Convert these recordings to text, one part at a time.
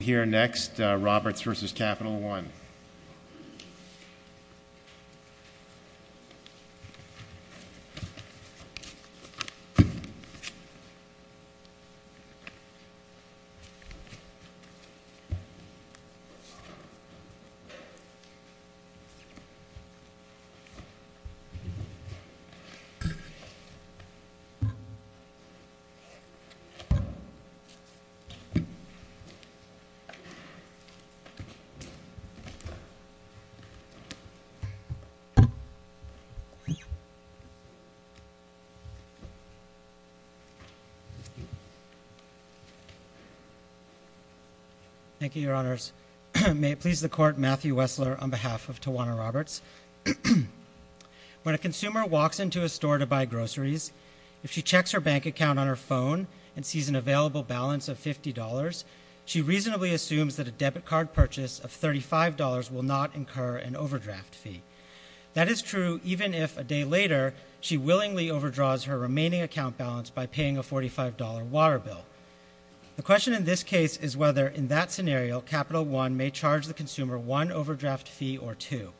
We'll hear next, Roberts v. Capital One. Thank you, Your Honors. May it please the Court, Matthew Wessler on behalf of Tawana Roberts. When a consumer walks into a store to buy groceries, if she checks her bank account on her phone and sees an available balance of $50, she reasonably assumes that a debit card purchase of $35 will not incur an overdraft fee. That is true even if, a day later, she willingly overdraws her remaining account balance by paying a $45 water bill. The question in this case is whether, in that scenario, Capital One may charge the consumer one overdraft fee or two.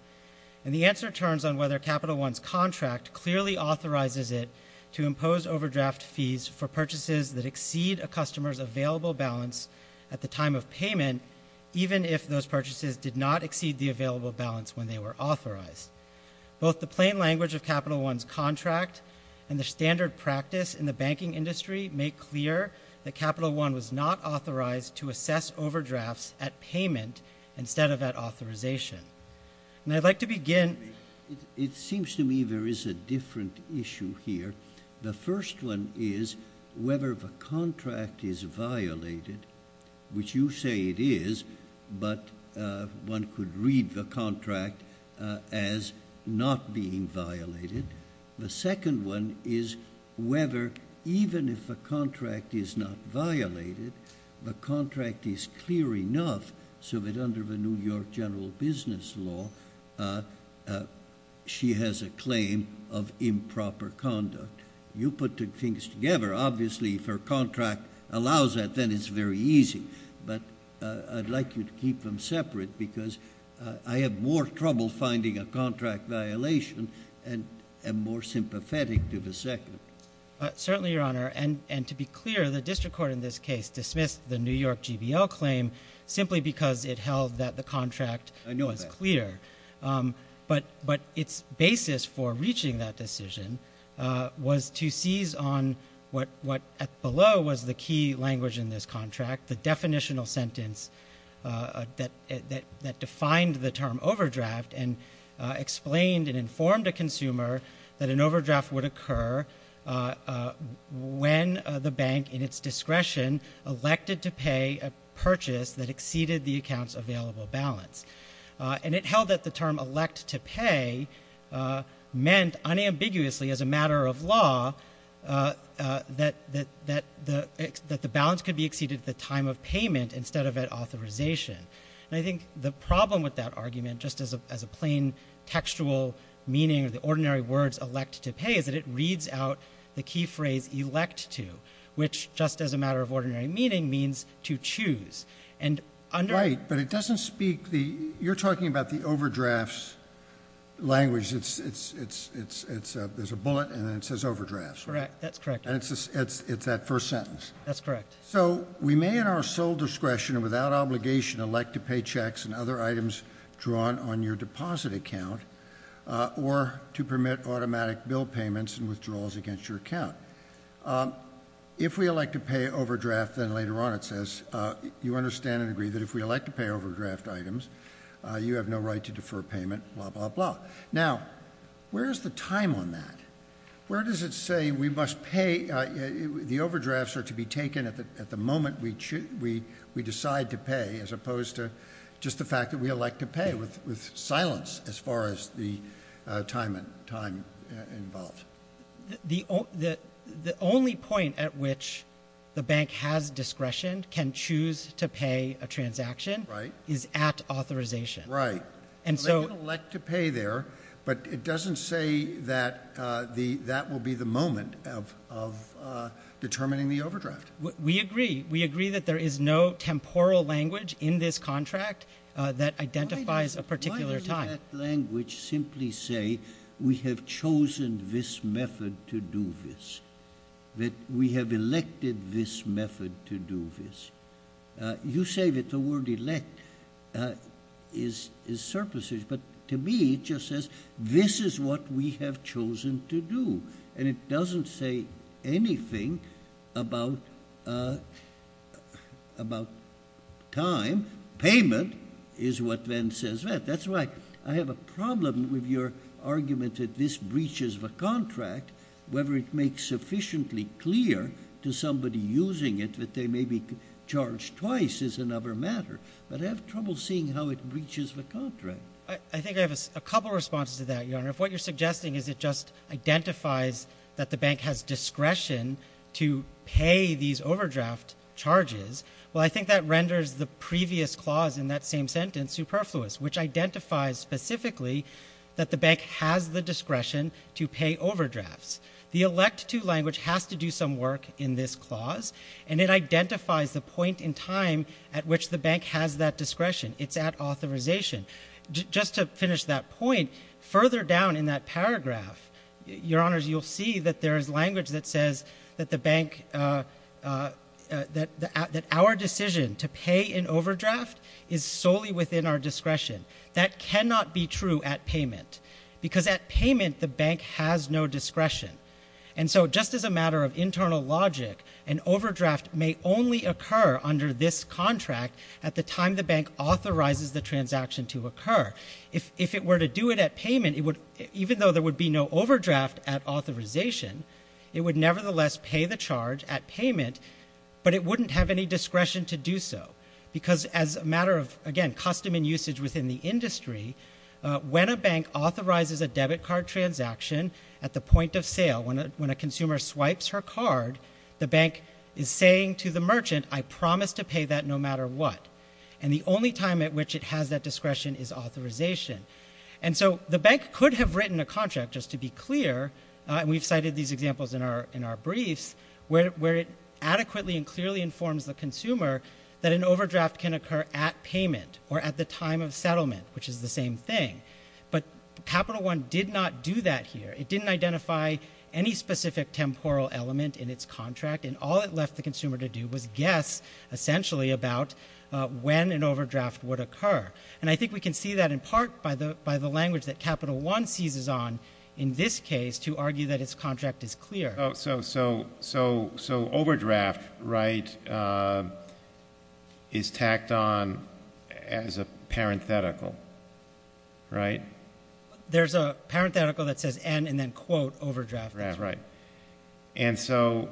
And the answer turns on whether Capital One's contract clearly authorizes it to impose overdraft fees for purchases that exceed a customer's available balance at the time of payment, even if those purchases did not exceed the available balance when they were authorized. Both the plain language of Capital One's contract and the standard practice in the banking industry make clear that Capital One was not authorized to assess overdrafts at payment instead of at authorization. And I'd like to begin— It seems to me there is a different issue here. The first one is whether the contract is violated, which you say it is, but one could read the contract as not being violated. The second one is whether, even if the contract is not violated, the contract is clear enough so that, under the New York general business law, she has a claim of improper conduct. You put the things together. Obviously, if her contract allows that, then it's very easy. But I'd like you to keep them separate because I have more trouble finding a contract violation and am more sympathetic to the second. Certainly, Your Honor. And to be clear, the district court in this case dismissed the New York GBL claim simply because it held that the contract was clear. But its basis for reaching that decision was to seize on what, below, was the key language in this contract, the definitional sentence that defined the term overdraft and explained and informed a consumer that an overdraft would occur when the bank, in its discretion, elected to pay a purchase that exceeded the account's available balance. And it held that the term elect to pay meant, unambiguously, as a matter of law, that the balance could be exceeded at the time of payment instead of at authorization. And I think the problem with that argument, just as a plain textual meaning of the ordinary words elect to pay, is that it reads out the key phrase elect to, which, just as a matter of ordinary meaning, means to choose. And under Right. But it doesn't speak the, you're talking about the overdrafts language. It's, it's, it's, it's, it's a, there's a bullet and then it says overdrafts. Correct. That's correct. And it's, it's, it's that first sentence. That's correct. So we may, in our sole discretion and without obligation, elect to pay checks and other items drawn on your deposit account or to permit automatic bill payments and withdrawals against your account. If we elect to pay overdraft, then later on it says, you understand and agree that if we elect to pay overdraft items, you have no right to defer payment, blah, blah, blah. Now, where is the time on that? Where does it say we must pay, the overdrafts are to be taken at the, at the moment we choose, we, we decide to pay as opposed to just the fact that we elect to pay with, with silence as far as the time and time involved. The, the, the only point at which the bank has discretion can choose to pay a transaction. Right. Is at authorization. Right. And so. They can elect to pay there, but it doesn't say that the, that will be the moment of, of determining the overdraft. We agree. We agree that there is no temporal language in this contract that identifies a particular time. Why does that language simply say we have chosen this method to do this? That we have elected this method to do this? You say that the word elect is, is surplusish, but to me it just says, this is what we have chosen to do, and it doesn't say anything about about time. Payment is what then says that. That's right. I have a problem with your argument that this breaches the contract, whether it makes sufficiently clear to somebody using it that they may be charged twice is another matter. But I have trouble seeing how it breaches the contract. I, I think I have a, a couple of responses to that, Your Honor. If what you're suggesting is it just identifies that the bank has discretion to pay these overdraft charges, well, I think that renders the previous clause in that same sentence superfluous, which identifies specifically that the bank has the discretion to pay overdrafts. The elect to language has to do some work in this clause, and it identifies the point in time at which the bank has that discretion. It's at authorization. Just to finish that point, further down in that paragraph, Your Honors, you'll see that there is language that says that the bank, that our decision to pay an overdraft is solely within our discretion. That cannot be true at payment, because at payment the bank has no discretion. And so just as a matter of internal logic, an overdraft may only occur under this contract at the time the bank authorizes the transaction to occur. If, if it were to do it at payment, it would, even though there would be no overdraft at authorization, it would nevertheless pay the charge at payment, but it wouldn't have any discretion to do so. Because as a matter of, again, custom and usage within the industry, when a bank authorizes a debit card transaction at the point of sale, when a, when a consumer swipes her card, the bank is saying to the merchant, I promise to pay that no matter what. And the only time at which it has that discretion is authorization. And so the bank could have written a contract, just to be clear, and we've cited these examples in our, in our briefs, where, where it adequately and clearly informs the consumer that an overdraft can occur at payment or at the time of settlement, which is the same thing. But Capital One did not do that here. It didn't identify any specific temporal element in its contract, and all it left the consumer to do was guess, essentially, about when an overdraft would occur. And I think we can see that in part by the, by the language that Capital One seizes on in this case to argue that its contract is clear. Oh, so, so, so, so overdraft, right, is tacked on as a parenthetical, right? There's a parenthetical that says end and then quote overdraft. That's right. And so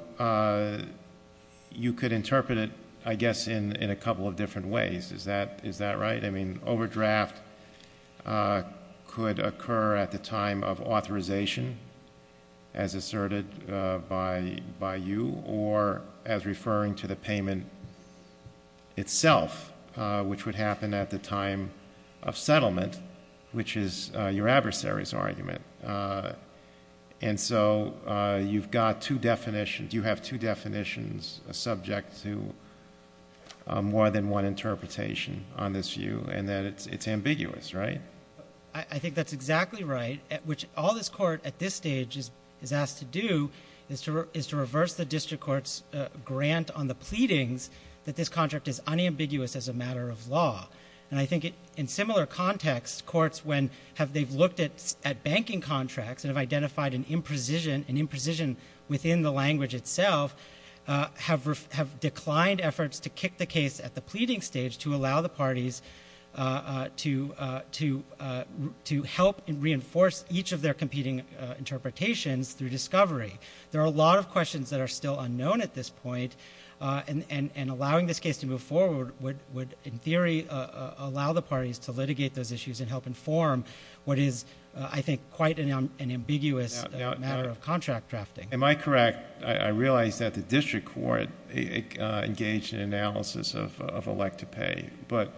you could interpret it, I guess, in, in a couple of different ways. Is that, is that right? I mean, overdraft could occur at the time of authorization, as asserted by, by you, or as referring to the payment itself, which would happen at the time of settlement, which is your adversary's argument. And so you've got two definitions, you have two definitions subject to more than one interpretation on this view, and that it's, it's ambiguous, right? I think that's exactly right, which all this Court at this stage is, is asked to do is to, is to reverse the district court's grant on the pleadings that this contract is unambiguous as a matter of law. And I think it, in similar context, courts when, have, they've looked at, at banking contracts and have identified an imprecision, an imprecision within the language itself, have, have declined efforts to kick the case at the pleading stage to allow the parties to, to, to help and reinforce each of their competing interpretations through discovery. There are a lot of questions that are still unknown at this point, and, and, and allowing this case to move forward would, would in form what is, I think, quite an, an ambiguous matter of contract drafting. Am I correct, I, I realize that the district court engaged in analysis of, of elect to pay, but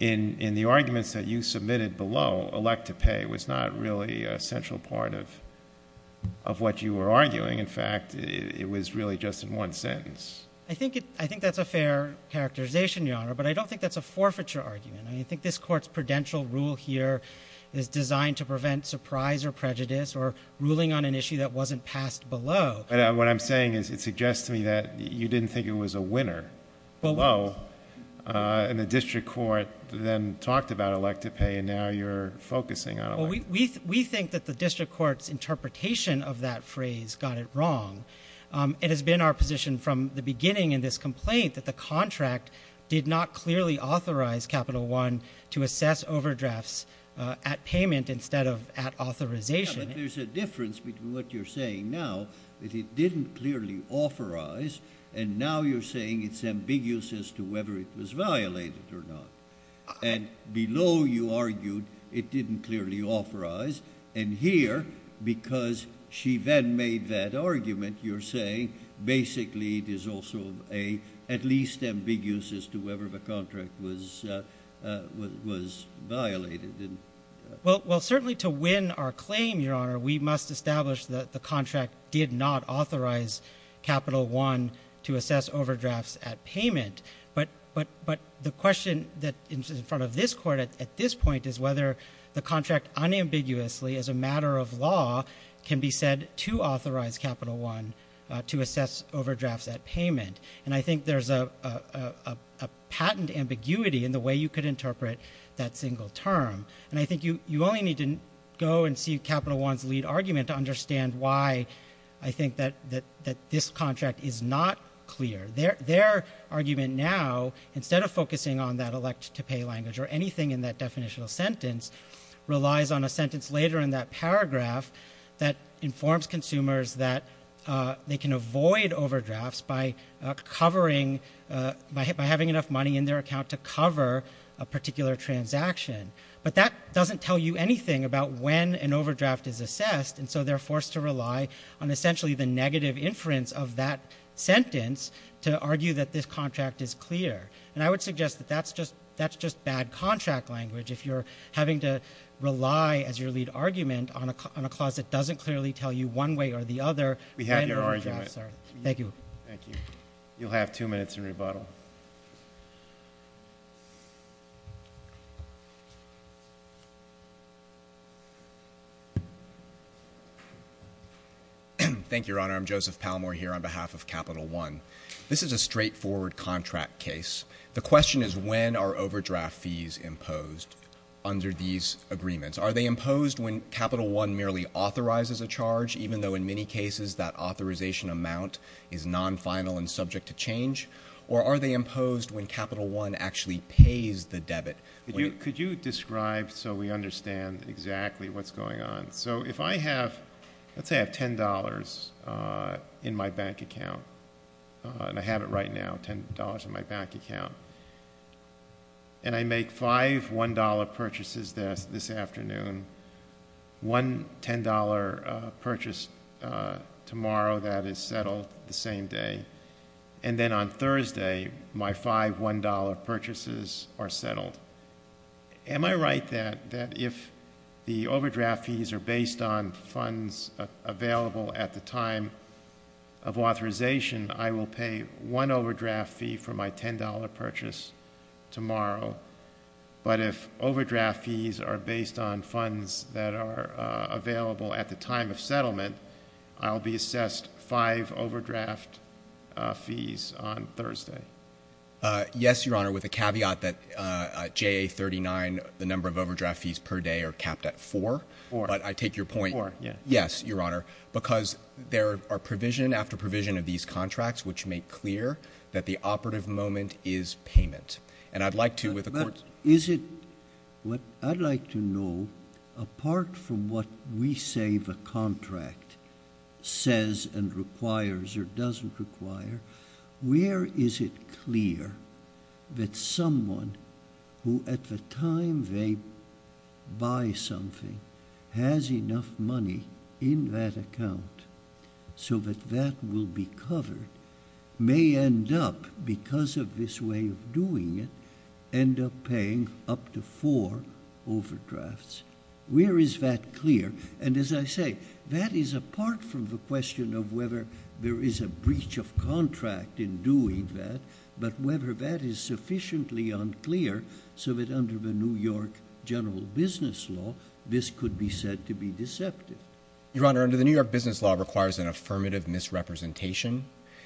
in, in the arguments that you submitted below, elect to pay was not really a central part of, of what you were arguing. In fact, it, it was really just in one sentence. I think it, I think that's a fair characterization, Your Honor, but I don't think that's a forfeiture argument. I mean, I think this court's prudential rule here is designed to prevent surprise or prejudice or ruling on an issue that wasn't passed below. But what I'm saying is it suggests to me that you didn't think it was a winner below, and the district court then talked about elect to pay and now you're focusing on elect to pay. Well, we, we, we think that the district court's interpretation of that phrase got it wrong. It has been our position from the beginning in this complaint that the contract did not clearly authorize Capital One to assess overdrafts at payment instead of at authorization. Yeah, but there's a difference between what you're saying now, that it didn't clearly authorize, and now you're saying it's ambiguous as to whether it was violated or not. And below you argued it didn't clearly authorize, and here, because she then made that argument, you're saying basically it is also a, at least ambiguous as to whether the contract was, uh, uh, was, was violated, didn't it? Well, well, certainly to win our claim, Your Honor, we must establish that the contract did not authorize Capital One to assess overdrafts at payment. But, but, but the question that is in front of this court at, at this point is whether the contract unambiguously as a matter of law can be said to authorize Capital One, uh, to assess overdrafts at payment. And I think there's a, a, a, a patent ambiguity in the way you could interpret that single term. And I think you, you only need to go and see Capital One's lead argument to understand why I think that, that, that this contract is not clear. Their, their argument now, instead of focusing on that elect-to-pay language or anything in that definitional sentence, relies on a sentence later in that paragraph that informs consumers that, uh, they can avoid overdrafts by, uh, covering, uh, by, by having enough money in their account to cover a particular transaction. But that doesn't tell you anything about when an overdraft is assessed, and so they're forced to rely on essentially the negative inference of that court suggests that that's just, that's just bad contract language. If you're having to rely as your lead argument on a, on a clause that doesn't clearly tell you one way or the other when overdrafts are assessed. We have your argument. Thank you. Thank you. You'll have two minutes in rebuttal. Thank you, Your Honor. I'm Joseph Palmore here on behalf of Capital One. This is a straightforward contract case. The question is, when are overdraft fees imposed under these agreements? Are they imposed when Capital One merely authorizes a charge, even though in many cases that authorization amount is non-final and subject to change? Or are they imposed when Capital One actually pays the debit? Could you, could you describe so we understand exactly what's going on? So if I have, let's in my bank account, and I have it right now, $10 in my bank account, and I make five $1 purchases this, this afternoon, one $10 purchase tomorrow that is settled the same day, and then on Thursday, my five $1 purchases are settled. Am I right that, that if the overdraft fees are based on funds available at the time of authorization, I will pay one overdraft fee for my $10 purchase tomorrow? But if overdraft fees are based on funds that are available at the time of settlement, I'll be assessed five overdraft fees on Thursday? Yes, Your Honor, with a caveat that JA 39, the number of overdraft fees per day are capped at four. Four. But I take your point. Four, yeah. Yes, Your Honor, because there are provision after provision of these contracts which make clear that the operative moment is payment. And I'd like to, with the Court's... But is it, what I'd like to know, apart from what we say the contract says and requires or doesn't require, where is it clear that someone who at the time they buy something has enough money in that account so that that will be covered may end up, because of this way of doing it, end up paying up to four overdrafts? Where is that clear? And as I say, that is apart from the question of whether there is a breach of contract in doing that, but whether that is sufficiently unclear so that under the New York general business law, this could be said to be deceptive. Your Honor, under the New York business law, it requires an affirmative misrepresentation.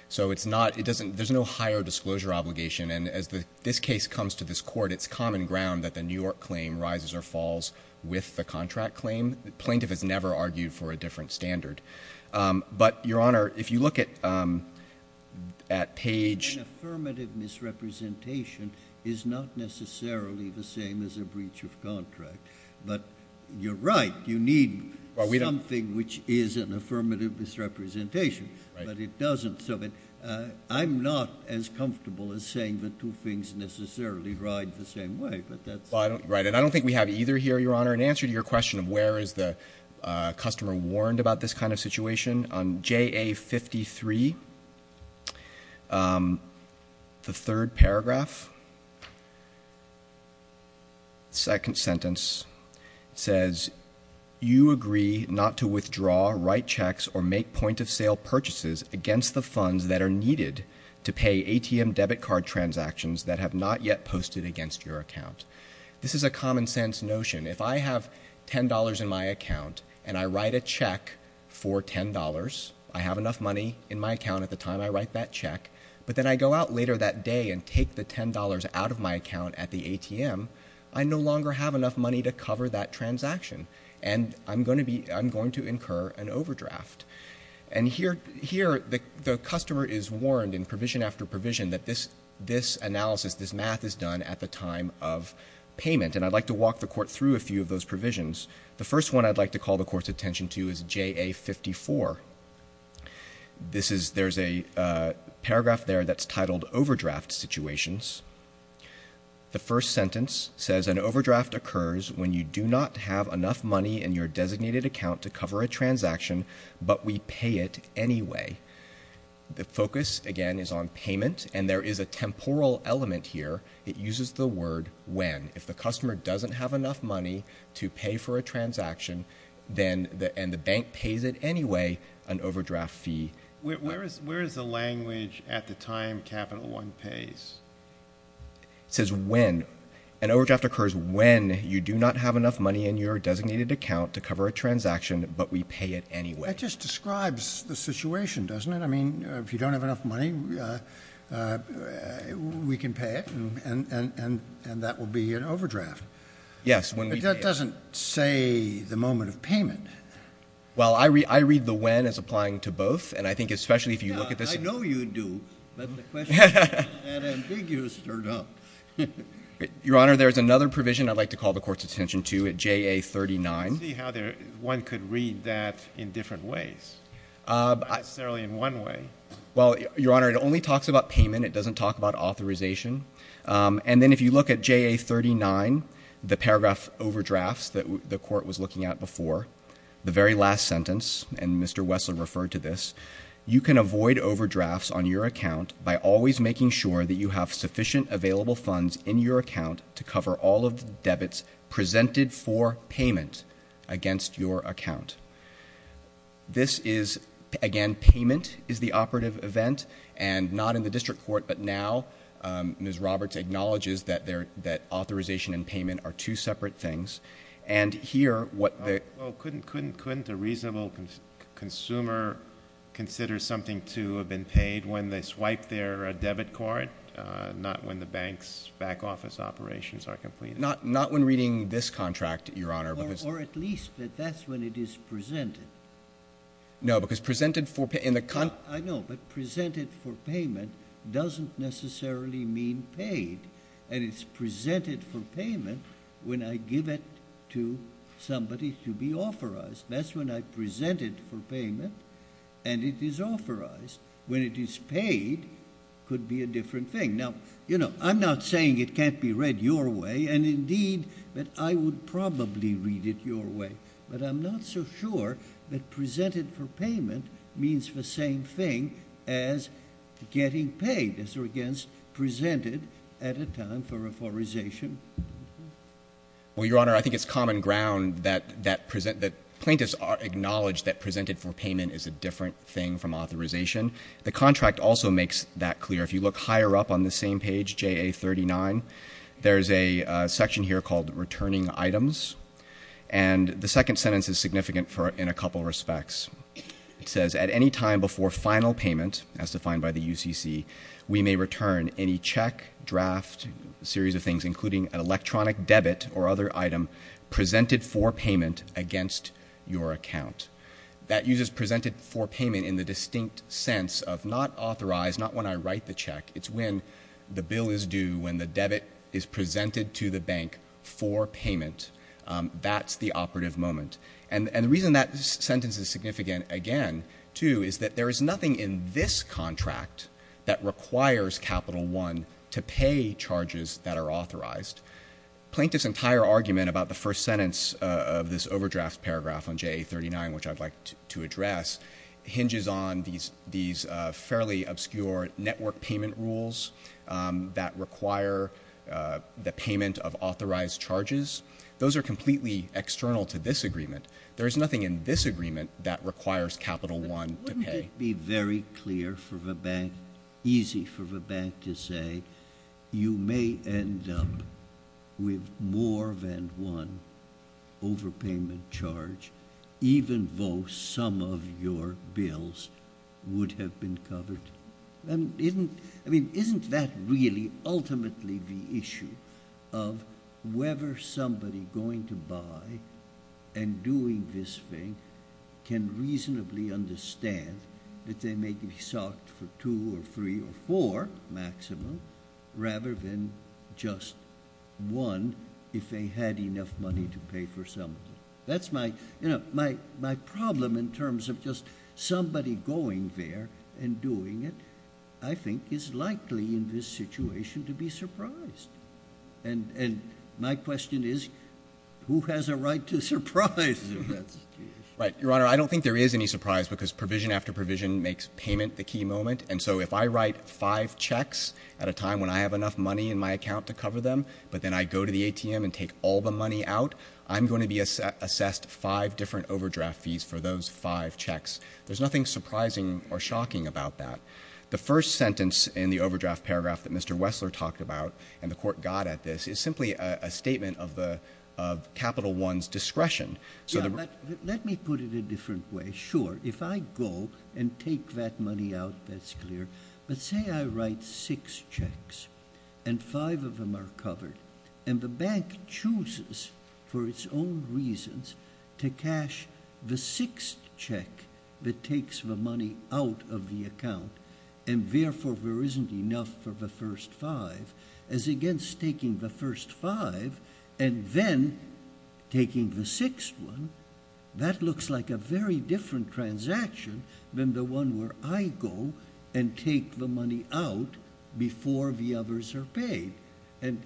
So it's not, it doesn't, there's no higher disclosure obligation. And as this case comes to this Court, it's common ground that the New York claim rises or falls with the contract claim. The plaintiff has never argued for a different standard. But, Your Honor, if you look at Page... An affirmative misrepresentation is not necessarily the same as a breach of contract. But you're right. You need something which is an affirmative misrepresentation. But it doesn't. So I'm not as comfortable as saying the two things necessarily ride the same way. But that's... Right. And I don't think we have either here, Your Honor, an answer to your question of where is the customer warned about this kind of situation. On JA 53, the third paragraph, second sentence, says, you agree not to withdraw, write checks, or make point-of-sale purchases against the funds that are needed to pay ATM debit card transactions that have not yet $10 in my account. And I write a check for $10. I have enough money in my account at the time I write that check. But then I go out later that day and take the $10 out of my account at the ATM. I no longer have enough money to cover that transaction. And I'm going to incur an overdraft. And here the customer is warned in provision after provision that this analysis, this math is done at the time of payment. And I'd like to walk the Court through a few of those provisions. The first one I'd like to call the Court's attention to is JA 54. This is, there's a paragraph there that's titled overdraft situations. The first sentence says, an overdraft occurs when you do not have enough money in your designated account to cover a transaction, but we pay it anyway. The focus, again, is on payment. And there is a temporal element here. It uses the word when. If the customer doesn't have enough money to pay for a transaction, then, and the bank pays it anyway, an overdraft fee. Where is the language at the time capital one pays? It says when. An overdraft occurs when you do not have enough money in your designated account to cover a transaction, but we pay it anyway. That just describes the situation, doesn't it? I mean, if you don't have enough money, we can pay it, and that will be an overdraft. Yes, when we pay it. But that doesn't say the moment of payment. Well, I read the when as applying to both, and I think especially if you look at this. Yeah, I know you do, but the question is, is that ambiguous or not? Your Honor, there's another provision I'd like to call the Court's attention to at JA 39. I see how one could read that in different ways. Not necessarily in one way. Well, Your Honor, it only talks about payment. It doesn't talk about authorization. And then if you look at JA 39, the paragraph overdrafts that the Court was looking at before, the very last sentence, and Mr. Wessler referred to this, you can avoid overdrafts on your account by always making sure that you have sufficient available funds in your account to cover all of the debits presented for payment against your account. This is, again, payment is the operative event, and not in the District Court, but now Ms. Roberts acknowledges that authorization and payment are two separate things. And here, what the— Well, couldn't a reasonable consumer consider something to have been paid when they swipe their debit card, not when the bank's back office operations are completed? Not when reading this contract, Your Honor. Or at least that that's when it is presented. No, because presented for— I know, but presented for payment doesn't necessarily mean paid. And it's presented for payment when I give it to somebody to be authorized. That's when I present it for payment and it is authorized. When it is paid could be a different thing. Now, you know, I'm not saying it can't be read your way, and indeed, that I would probably read it your way, but I'm not so sure that presented for payment means the same thing as getting paid as against presented at a time for authorization. Well, Your Honor, I think it's common ground that plaintiffs acknowledge that presented for payment is a different thing from authorization. The contract also makes that clear. If you look higher up on the same page, JA 39, there's a section here called returning items. And the second sentence is significant in a couple respects. It says, at any time before final payment, as defined by the UCC, we may return any check, draft, series of things, including an electronic debit or other item presented for payment against your account. That uses presented for payment in the distinct sense of not authorized, not when I write the check. It's when the bill is due, when the debit is presented to the bank for payment. That's the operative moment. And the reason that sentence is significant, again, too, is that there is nothing in this contract that requires Capital One to pay charges that are authorized. Plaintiffs' entire argument about the first sentence of this overdraft paragraph on JA 39, which I'd like to address, hinges on these fairly obscure network payment rules that require the payment of authorized charges. Those are completely external to this agreement. There is nothing in this agreement that requires Capital One to pay. Wouldn't it be very clear for the bank, easy for the bank to say, you may end up with more than one overpayment charge, even though some of your bills would have been covered? Isn't that really ultimately the issue of whether somebody going to buy and doing this thing can reasonably understand that they may be socked for 2 or 3 or 4 maximum, rather than just one, if they had enough money to pay for some of it? That's my, you know, my problem in terms of just somebody going there and doing it, I think, is likely in this situation to be surprised. And my question is, who has a right to surprise in that situation? Right. Your Honor, I don't think there is any surprise because provision after provision makes payment the key moment. And so if I write 5 checks at a time when I have enough money in my account to cover them, but then I go to the ATM and take all the money out, I'm going to be assessed 5 different overdraft fees for those 5 checks. There's nothing surprising or shocking about that. The first sentence in the overdraft paragraph that Mr. Wessler talked about, and the Court got at this, is simply a statement of Capital One's discretion. Yeah, but let me put it a different way. Sure, if I go and take that money out, that's clear. But say I write 6 checks, and 5 of them are covered, and the bank chooses for its own reasons to cash the 6th check that takes the money out of the account, and therefore there isn't enough for the first 5, as against taking the first 5 and then taking the 6th one, that I take the money out before the others are paid. And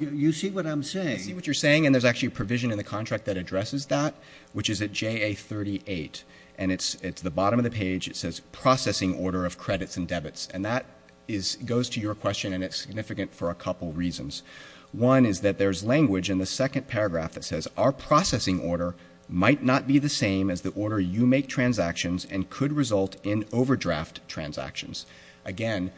you see what I'm saying? I see what you're saying, and there's actually a provision in the contract that addresses that, which is at JA 38. And it's at the bottom of the page, it says, Processing Order of Credits and Debits. And that goes to your question, and it's significant for a couple reasons. One is that there's language in the second paragraph that says, Our processing order might not be the same as the order you make transactions, and could result in overdraft transactions. Again,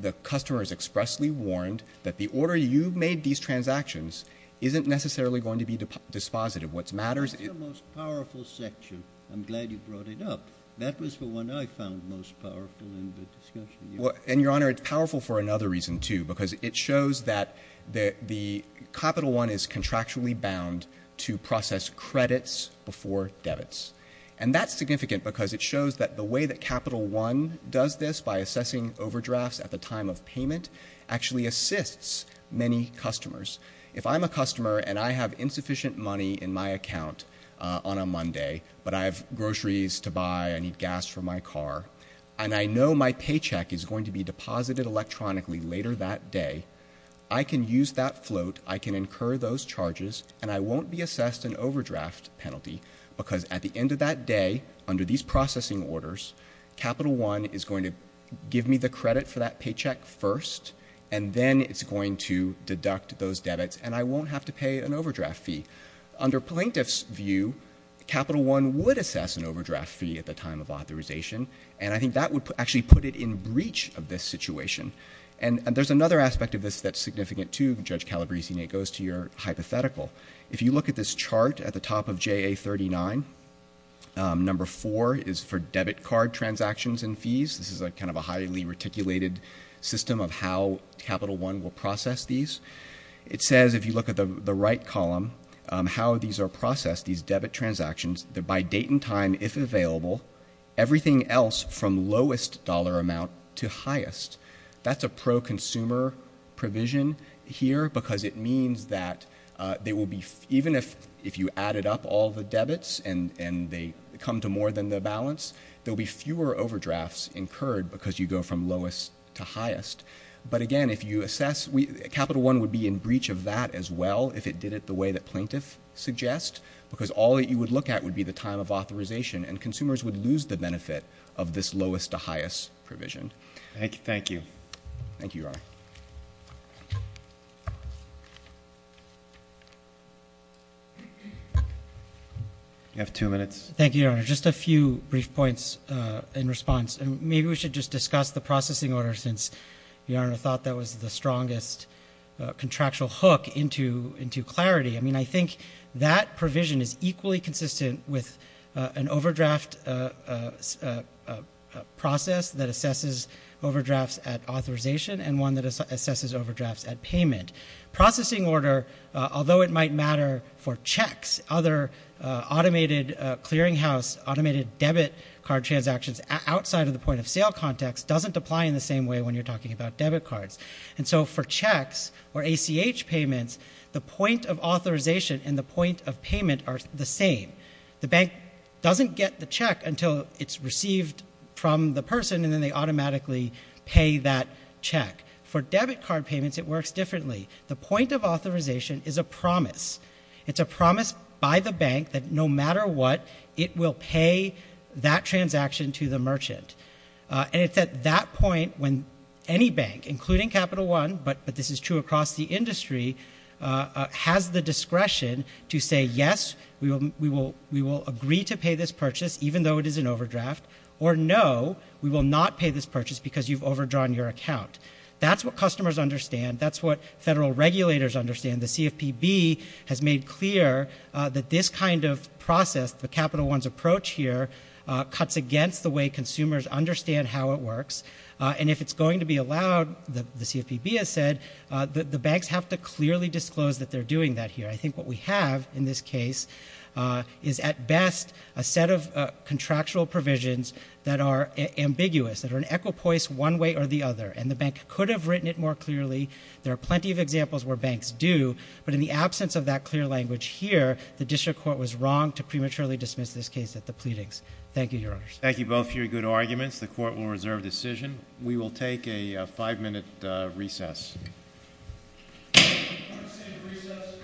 the customer has expressly warned that the order you made these transactions isn't necessarily going to be dispositive. What matters is — That's the most powerful section. I'm glad you brought it up. That was the one I found most powerful in the discussion. And, Your Honor, it's powerful for another reason, too, because it shows that the Capital One is contractually bound to process credits before debits. And that's significant because it shows that the way that Capital One does this, by assessing overdrafts at the time of payment, actually assists many customers. If I'm a customer and I have insufficient money in my account on a Monday, but I have groceries to buy, I need gas for my car, and I know my paycheck is going to be deposited electronically later that day, I can use that float, I can incur those charges, and I won't be assessed an overdraft penalty, because at the end of that day, under these processing orders, Capital One is going to give me the credit for that paycheck first, and then it's going to deduct those debits, and I won't have to pay an overdraft fee. Under plaintiff's view, Capital One would assess an overdraft fee at the time of authorization, and I think that would actually put it in breach of this situation. And there's another aspect of this that's significant, too, Judge Calabresi, and it goes to your hypothetical. If you look at this chart at the top of JA39, number four is for debit card transactions and fees. This is kind of a highly reticulated system of how Capital One will process these. It says, if you look at the right column, how these are processed, these debit transactions, by date and time, if available, everything else from lowest dollar amount to highest. That's a pro-consumer provision here, because it means that there will be, even if you added up all the debits and they come to more than the balance, there will be fewer overdrafts incurred because you go from lowest to highest. But again, if you assess, Capital One would be in breach of that as well, if it did it the way that plaintiff suggests, because all that you would look at would be the time of authorization, and consumers would lose the benefit of this lowest to highest provision. Thank you. Thank you, Your Honor. You have two minutes. Thank you, Your Honor. Just a few brief points in response. Maybe we should just discuss the processing order, since Your Honor thought that was the strongest contractual hook into clarity. I mean, I think that provision is equally consistent with an overdraft process that assesses overdrafts at authorization and one that assesses overdrafts at payment. Processing order, although it might matter for checks, other automated clearinghouse, automated debit card transactions outside of the point of sale context, doesn't apply in the same way when you're talking about debit cards. And so for checks or ACH payments, the point of authorization and the point of payment are the same. The bank doesn't get the check until it's received from the person, and then they automatically pay that check. For debit card payments, it works differently. The point of authorization is a promise. It's a promise by the bank that no matter what, it will pay that transaction to the merchant. And it's at that point when any bank, including Capital One, but this is true across the industry, has the discretion to say, yes, we will agree to pay this purchase, even though it is an overdraft, or no, we will not pay this purchase because you've overdrawn your account. That's what customers understand. That's what federal regulators understand. The CFPB has made clear that this kind of process, the Capital One's approach here, cuts against the way consumers understand how it works. And if it's going to be allowed, the CFPB has said, the banks have to clearly disclose that they're doing that here. I think what we have in this case is at best a set of contractual provisions that are ambiguous, that are an equipoise one way or the other, and the bank could have written it more clearly. There are plenty of examples where banks do, but in the absence of that clear language here, the District Court was wrong to prematurely dismiss this case at the pleadings. Thank you, Your Honors. Thank you both for your good arguments. The Court will reserve decision. We will take a five-minute recess. Court is in recess.